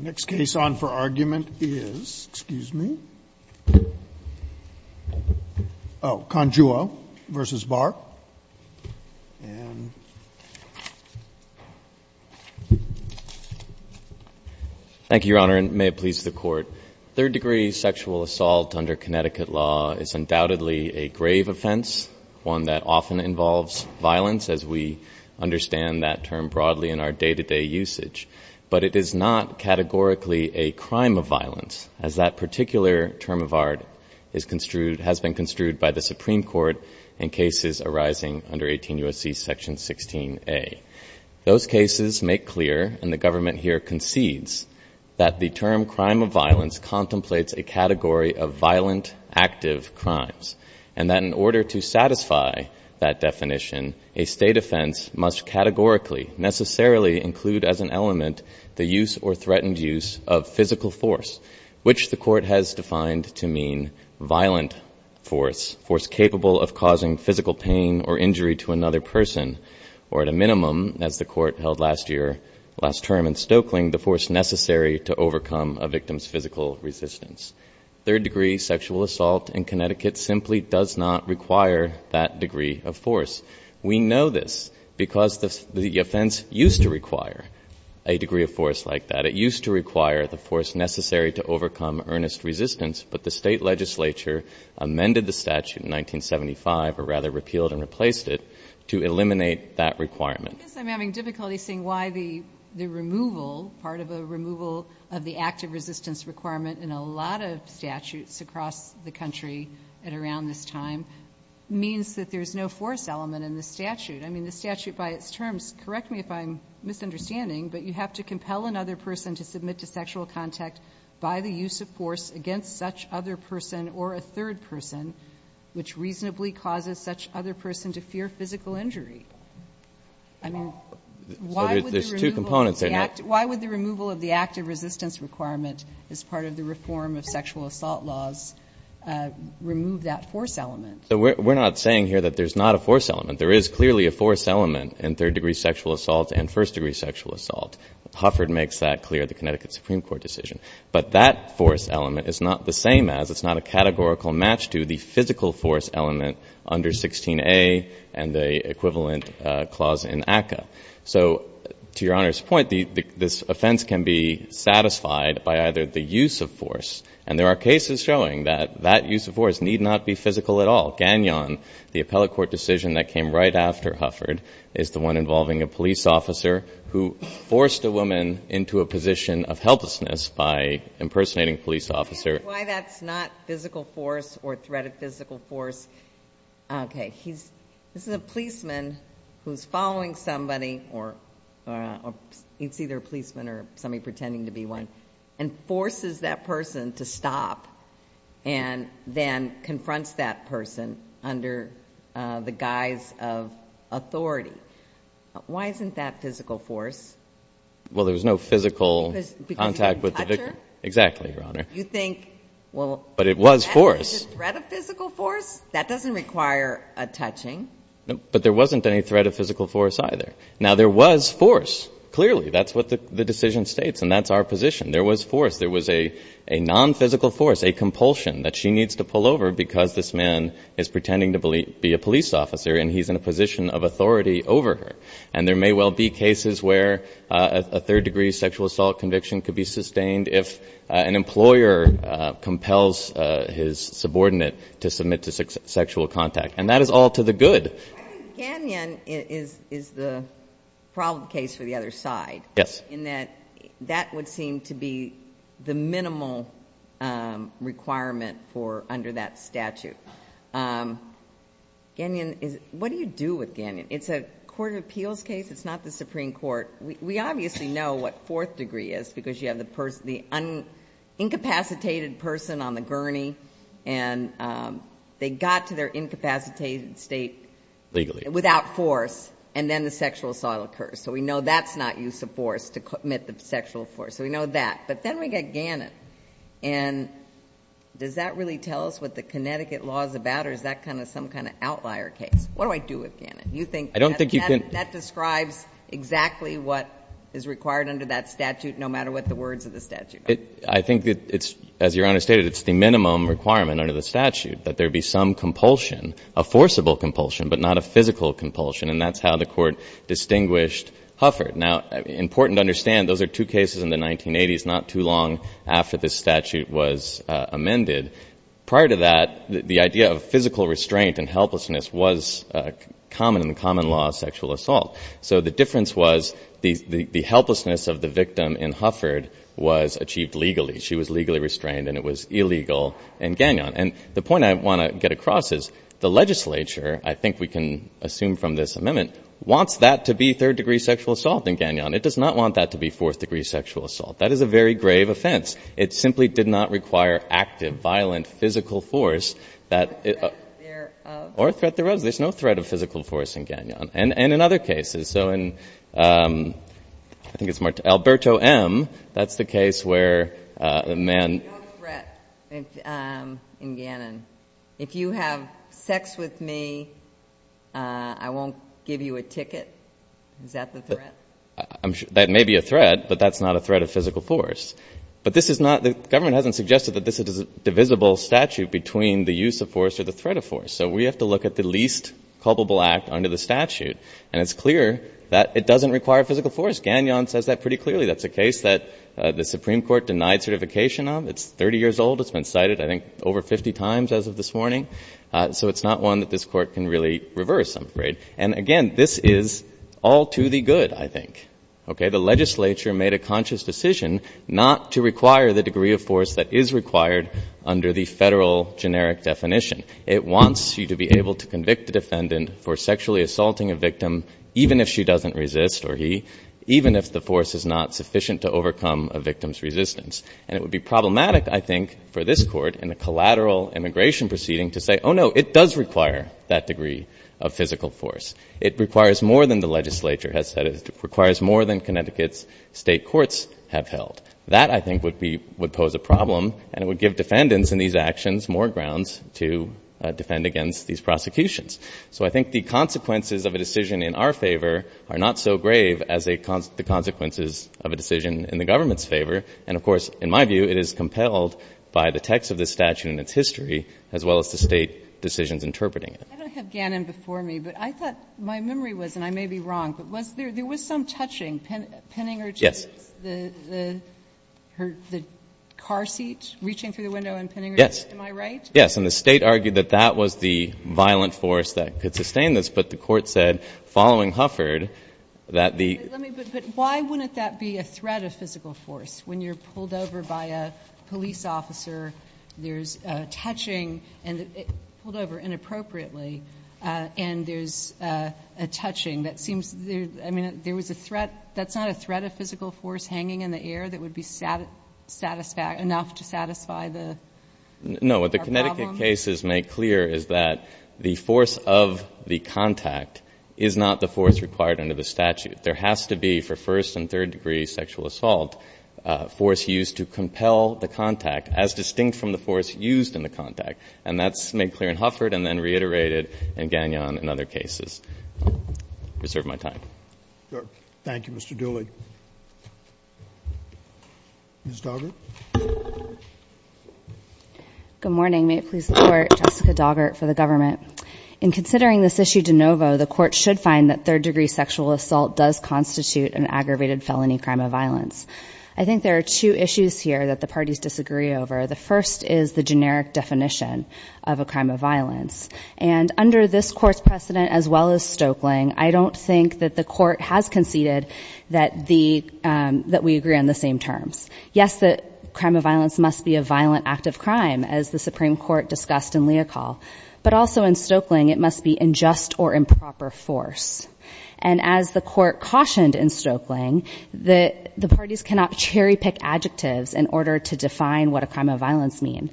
Thank you, Your Honor, and may it please the Court. Third-degree sexual assault under Connecticut law is undoubtedly a grave offense, one that often involves violence, as we understand that term broadly in our day-to-day usage, but it is not categorically a crime of violence, as that particular term of art is construed, has been construed by the Supreme Court in cases arising under 18 U.S.C. Section 16A. Those cases make clear, and the government here concedes, that the term crime of violence contemplates a category of violent active crimes, and that in order to satisfy that definition, a State offense must categorically necessarily include as an element the use or threatened use of physical force, which the Court has defined to mean violent force, force capable of causing physical pain or injury to another person, or at a minimum, as the Court held last year, last term in Stokeling, the force necessary to overcome a victim's physical resistance. Third-degree sexual assault in Connecticut simply does not require that degree of force. We know this because the offense used to require a degree of force like that. It used to require the force necessary to overcome earnest resistance, but the State legislature amended the statute in 1975, or rather repealed and replaced it, to eliminate that requirement. I guess I'm having difficulty seeing why the removal, part of a removal of the active resistance requirement in a lot of statutes across the country at around this time, means that there's no force element in the statute. I mean, the statute by its terms, correct me if I'm misunderstanding, but you have to compel another person to submit to sexual contact by the use of force against such other person or a third person, which reasonably causes such other person to fear physical injury. I mean, why would the removal of the active resistance requirement as part of the reform of sexual assault laws remove that force element? So we're not saying here that there's not a force element. There is clearly a force element in third-degree sexual assault and first-degree sexual assault. Hufford makes that clear, the Connecticut Supreme Court decision. But that force element is not the same as, it's not a categorical match to, the physical force element under 16a and the equivalent clause in ACCA. So to Your Honor's point, this offense can be satisfied by either the use of force, and there are cases showing that that use of force need not be physical at all. Gagnon, the appellate court decision that came right after Hufford, is the one involving a police officer who forced a woman into a position of helplessness by impersonating a police officer. I can't explain why that's not physical force or threated physical force. Okay, he's, this is a policeman who's following somebody, or it's either a policeman or somebody pretending to be one, and forces that person to stop and then confronts that person under the guise of authority. Why isn't that physical force? Well, there's no physical contact with the victim. Because he's a toucher? Exactly, Your Honor. You think, well... But it was force. Was it threat of physical force? That doesn't require a touching. But there wasn't any threat of physical force either. Now, there was force. Clearly, that's what the decision states, and that's our position. There was force. There was a nonphysical force, a compulsion that she needs to pull over because this man is pretending to be a police officer, and he's in a position of authority over her. And there may well be cases where a third-degree sexual assault conviction could be sustained if an employer compels his subordinate to submit to sexual contact. And that is all to the good. I think Gagnon is the problem case for the other side. Yes. In that that would seem to be the minimal requirement for, under that statute. Gagnon is, what do you do with Gagnon? It's a court of appeals case. It's not the Supreme Court. We obviously know what fourth degree is, because you have the incapacitated person on the gurney, and they got to their incapacitated state... Legally. ...without force, and then the sexual assault occurs. So we know that's not use of force to commit the sexual force. So we know that. But then we get Gagnon. And does that really tell us what the Connecticut law is about, or is that some kind of outlier case? What do I do with Gagnon? I don't think you can... That describes exactly what is required under that statute, no matter what the words of the statute are. I think that it's, as Your Honor stated, it's the minimum requirement under the statute that there be some compulsion, a forcible compulsion, but not a physical compulsion. And that's how the Court distinguished Hufford. Now, important to understand, those are two cases in the 1980s, not too long after this statute was amended. Prior to that, the idea of physical restraint and helplessness was common in the common law of sexual assault. So the difference was the helplessness of the victim in Hufford was achieved legally. She was legally restrained, and it was illegal in Gagnon. And the point I want to get across is the legislature, I think we can assume from this amendment, wants that to be third-degree sexual assault in Gagnon. It does not want that to be fourth-degree sexual assault. That is a very grave offense. It simply did not require active, violent, physical force that... Or threat thereof. There's no threat of physical force in Gagnon. And in other cases. So in, I think it's Alberto M., that's the case where a man... No threat in Gagnon. If you have sex with me, I won't give you a ticket. Is that the threat? That may be a threat, but that's not a threat of physical force. But this is not, the government hasn't suggested that this is a divisible statute between the use of force or the threat of force. So we have to look at the least culpable act under the statute. And it's clear that it doesn't require physical force. Gagnon says that pretty clearly. That's a case that the Supreme Court denied certification of. It's 30 years old. It's been cited, I think, over 50 times as of this morning. So it's not one that this Court can really reverse some degree. And again, this is all to the good, I think. Okay? The legislature made a conscious decision not to require the degree of force that is required under the Federal generic definition. It wants you to be able to convict a defendant for sexually assaulting a victim even if she doesn't resist, or he, even if the force is not sufficient to overcome a victim's resistance. And it would be problematic, I think, for this Court in a collateral immigration proceeding to say, oh, no, it does require that degree of physical force. It requires more than the legislature has said. It requires more than Connecticut's state courts have held. That, I think, would be, would pose a problem, and it would give defendants in these actions more grounds to defend against these prosecutions. So I think the consequences of a decision in our favor are not so grave as the consequences of a decision in the government's favor. And, of course, in my view, it is compelled by the text of the statute and its history, as well as the State decisions interpreting it. I don't have Gannon before me, but I thought my memory was, and I may be wrong, but was there, there was some touching. Penninger, too. Yes. The car seat reaching through the window in Penninger? Yes. Am I right? Yes. And the State argued that that was the violent force that could sustain this, but the Court said, following Hufford, that the Let me, but why wouldn't that be a threat of physical force? When you're pulled over by a police officer, there's touching, and pulled over inappropriately, and there's a touching that seems, I mean, there was a threat, that's not a threat of physical force hanging in the air that would be satisfactory, enough to satisfy the problem? No. What the Connecticut cases make clear is that the force of the contact is not the force required under the statute. There has to be, for first and third degree sexual assault, force used to compel the contact, as distinct from the force used in the contact. And that's made clear in Hufford and then reiterated in Gannon and other cases. I reserve my time. Thank you, Mr. Dooley. Ms. Doggart? Good morning. May it please the Court, Jessica Doggart for the Government. In considering this issue de novo, the Court should find that third degree sexual assault does constitute an aggravated felony crime of violence. I think there are two issues here that the parties disagree over. The first is the generic definition of a crime of violence. And under this Court's precedent, as well as Stoeckling, I don't think that the that we agree on the same terms. Yes, the crime of violence must be a violent act of crime, as the Supreme Court discussed in Leocal. But also in Stoeckling, it must be unjust or improper force. And as the Court cautioned in Stoeckling, the parties cannot cherry-pick adjectives in order to define what a crime of violence means.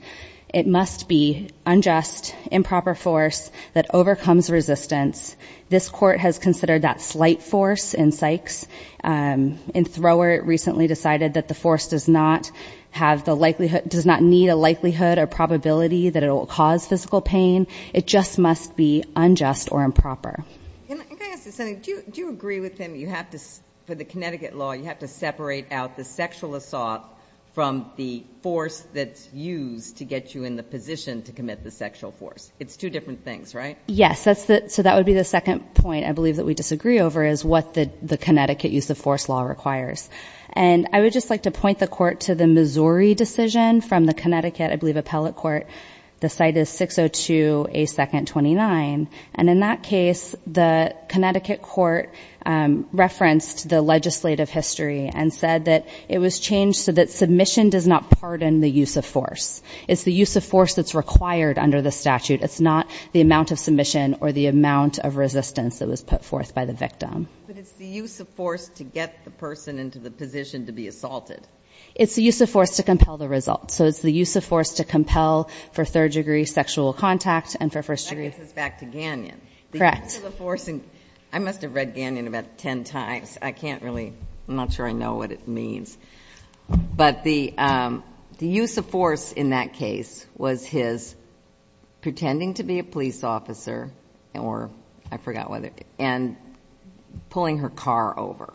It must be unjust, improper force that overcomes resistance. This Court has considered that slight force in Sykes. In Thrower, it recently decided that the force does not have the likelihood does not need a likelihood or probability that it will cause physical pain. It just must be unjust or improper. Can I ask you something? Do you agree with him that you have to for the Connecticut law, you have to separate out the sexual assault from the force that's used to get you in the position to commit the sexual force? It's two different things, right? Yes, so that would be the second point I believe that we disagree over is what the Connecticut use of force law requires. And I would just like to point the Court to the Missouri decision from the Connecticut, I believe, appellate court. The site is 602A2-29. And in that case, the Connecticut court referenced the legislative history and said that it was changed so that submission does not pardon the use of force. It's the use of force that's required under the statute. It's not the amount of submission or the amount of resistance that was put forth by the victim. But it's the use of force to get the person into the position to be assaulted. It's the use of force to compel the result. So it's the use of force to compel for third-degree sexual contact and for first-degree. That gets us back to Gagnon. Correct. The use of the force, and I must have read Gagnon about ten times. I can't really, I'm not sure I know what it means. But the use of force in that case was his pretending to be a police officer or I forgot whether, and pulling her car over.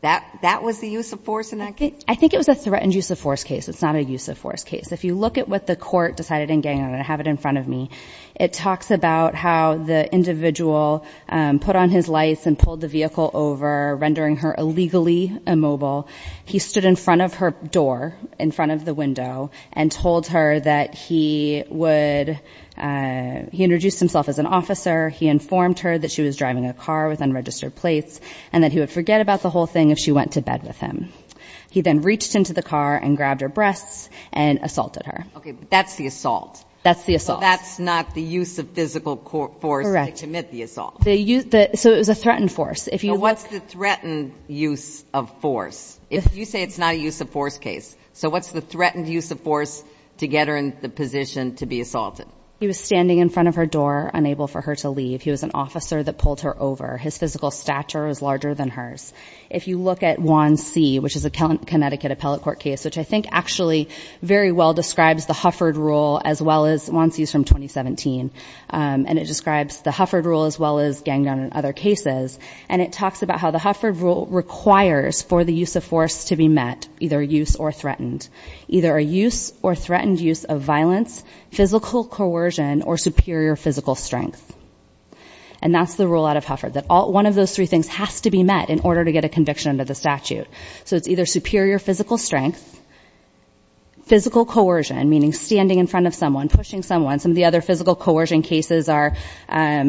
That was the use of force in that case? I think it was a threatened use of force case. It's not a use of force case. If you look at what the court decided in Gagnon, and I have it in front of me, it talks about how the individual put on his lights and pulled the vehicle over, rendering her illegally immobile. He stood in front of her door, in front of the window, and told her that he introduced himself as an officer. He informed her that she was driving a car with unregistered plates and that he would forget about the whole thing if she went to bed with him. He then reached into the car and grabbed her breasts and assaulted her. Okay, but that's the assault. That's the assault. So that's not the use of physical force to commit the assault. Correct. So it was a threatened force. So what's the threatened use of force? You say it's not a use of force case. So what's the threatened use of force to get her in the position to be assaulted? He was standing in front of her door, unable for her to leave. He was an officer that pulled her over. His physical stature was larger than hers. If you look at Juan C., which is a Connecticut appellate court case, which I think actually very well describes the Hufford rule, as well as Juan C.'s from 2017, and it describes the Hufford rule as well as Gagnon and other cases, and it talks about how the Hufford rule requires for the use of force to be met, either a use or threatened. Either a use or threatened use of violence, physical coercion, or superior physical strength. And that's the rule out of Hufford, that one of those three things has to be met in order to get a conviction under the statute. So it's either superior physical strength, physical coercion, meaning standing in front of someone, pushing someone. Some of the other physical coercion cases are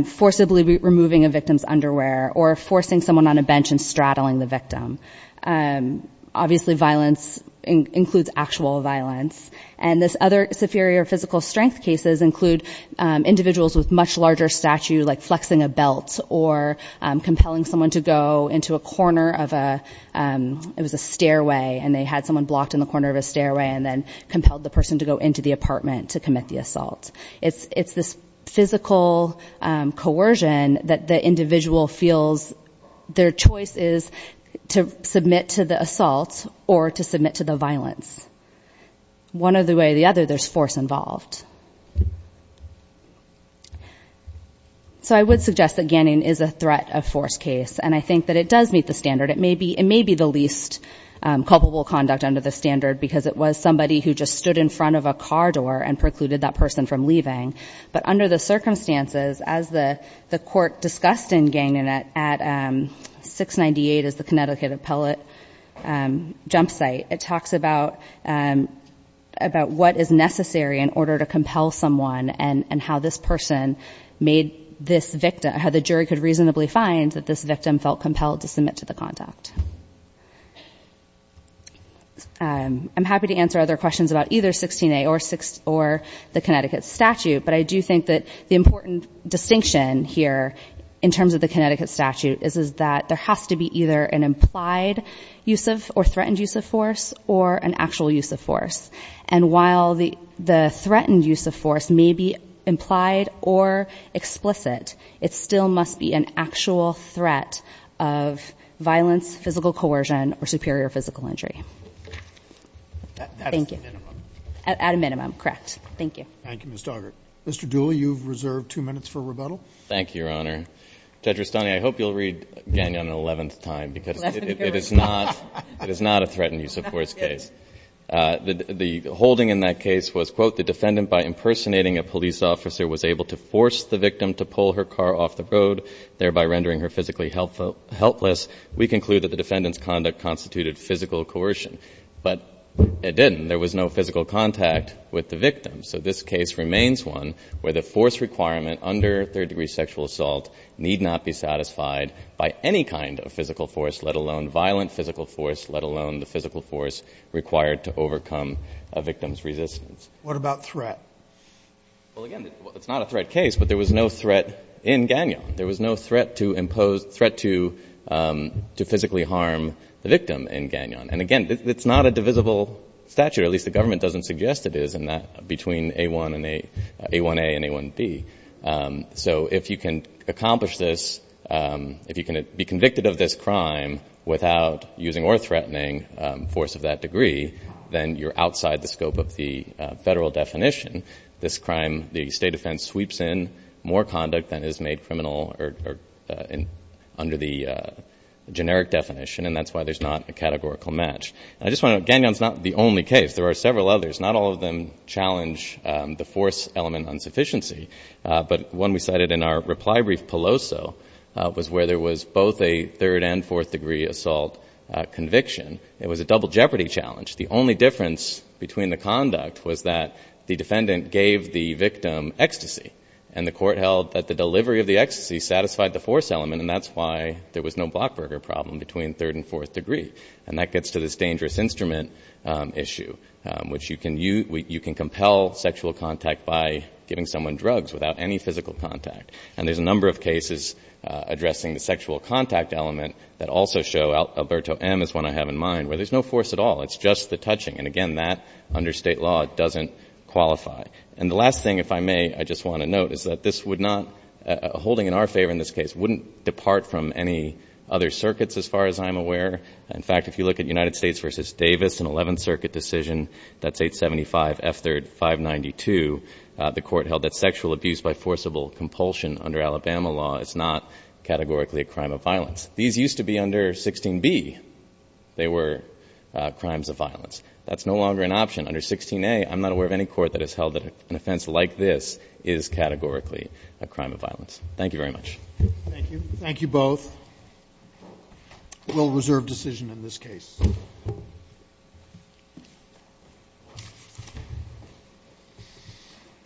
forcibly removing a victim's underwear or forcing someone on a bench and straddling the victim. Obviously violence includes actual violence. And these other superior physical strength cases include individuals with much larger stature, like flexing a belt or compelling someone to go into a corner of a stairway, and they had someone blocked in the corner of a stairway and then compelled the person to go into the apartment to commit the assault. It's this physical coercion that the individual feels their choice is to submit to the assault or to submit to the violence. One or the way or the other, there's force involved. So I would suggest that Ganning is a threat of force case, and I think that it does meet the standard. It may be the least culpable conduct under the standard because it was somebody who just stood in front of a car door and precluded that person from leaving. But under the circumstances, as the court discussed in Ganning at 698, as the Connecticut appellate jump site, it talks about what is necessary in order to compel someone and how this person made this victim, how the jury could reasonably find that this victim felt compelled to submit to the contact. I'm happy to answer other questions about either 16A or the Connecticut statute, but I do think that the important distinction here in terms of the Connecticut statute is that there has to be either an implied use of or threatened use of force or an actual use of force. And while the threatened use of force may be implied or explicit, it still must be an actual threat of violence, physical coercion, or superior physical injury. Thank you. At a minimum. At a minimum, correct. Thank you. Thank you, Ms. Doggart. Mr. Dooley, you've reserved two minutes for rebuttal. Thank you, Your Honor. Judge Rustani, I hope you'll read Ganning on an eleventh time The holding in that case was, quote, the defendant, by impersonating a police officer, was able to force the victim to pull her car off the road, thereby rendering her physically helpless. We conclude that the defendant's conduct constituted physical coercion. But it didn't. There was no physical contact with the victim. So this case remains one where the force requirement under third-degree sexual assault need not be satisfied by any kind of physical force, let alone violent physical force, let alone the physical force required to overcome a victim's resistance. What about threat? Well, again, it's not a threat case, but there was no threat in Gagnon. There was no threat to physically harm the victim in Gagnon. And, again, it's not a divisible statute, or at least the government doesn't suggest it is, between A1A and A1B. So if you can accomplish this, if you can be convicted of this crime without using or threatening force of that degree, then you're outside the scope of the federal definition. This crime, the state defense sweeps in more conduct than is made criminal under the generic definition, and that's why there's not a categorical match. I just want to note Gagnon's not the only case. There are several others. Not all of them challenge the force element insufficiency. But one we cited in our reply brief, Peloso, was where there was both a third- and fourth-degree assault conviction. It was a double jeopardy challenge. The only difference between the conduct was that the defendant gave the victim ecstasy, and the court held that the delivery of the ecstasy satisfied the force element, and that's why there was no Blockberger problem between third and fourth degree. And that gets to this dangerous instrument issue, which you can compel sexual contact by giving someone drugs without any physical contact. And there's a number of cases addressing the sexual contact element that also show, Alberto M. is one I have in mind, where there's no force at all. It's just the touching. And, again, that under state law doesn't qualify. And the last thing, if I may, I just want to note, is that this would not, holding in our favor in this case, wouldn't depart from any other circuits as far as I'm aware. In fact, if you look at United States v. Davis, an 11th Circuit decision, that's 875 F. 3rd, 592, the court held that sexual abuse by forcible compulsion under Alabama law is not categorically a crime of violence. These used to be under 16B. They were crimes of violence. That's no longer an option. Under 16A, I'm not aware of any court that has held that an offense like this is categorically a crime of violence. Thank you very much. Thank you. Thank you both. We'll reserve decision in this case.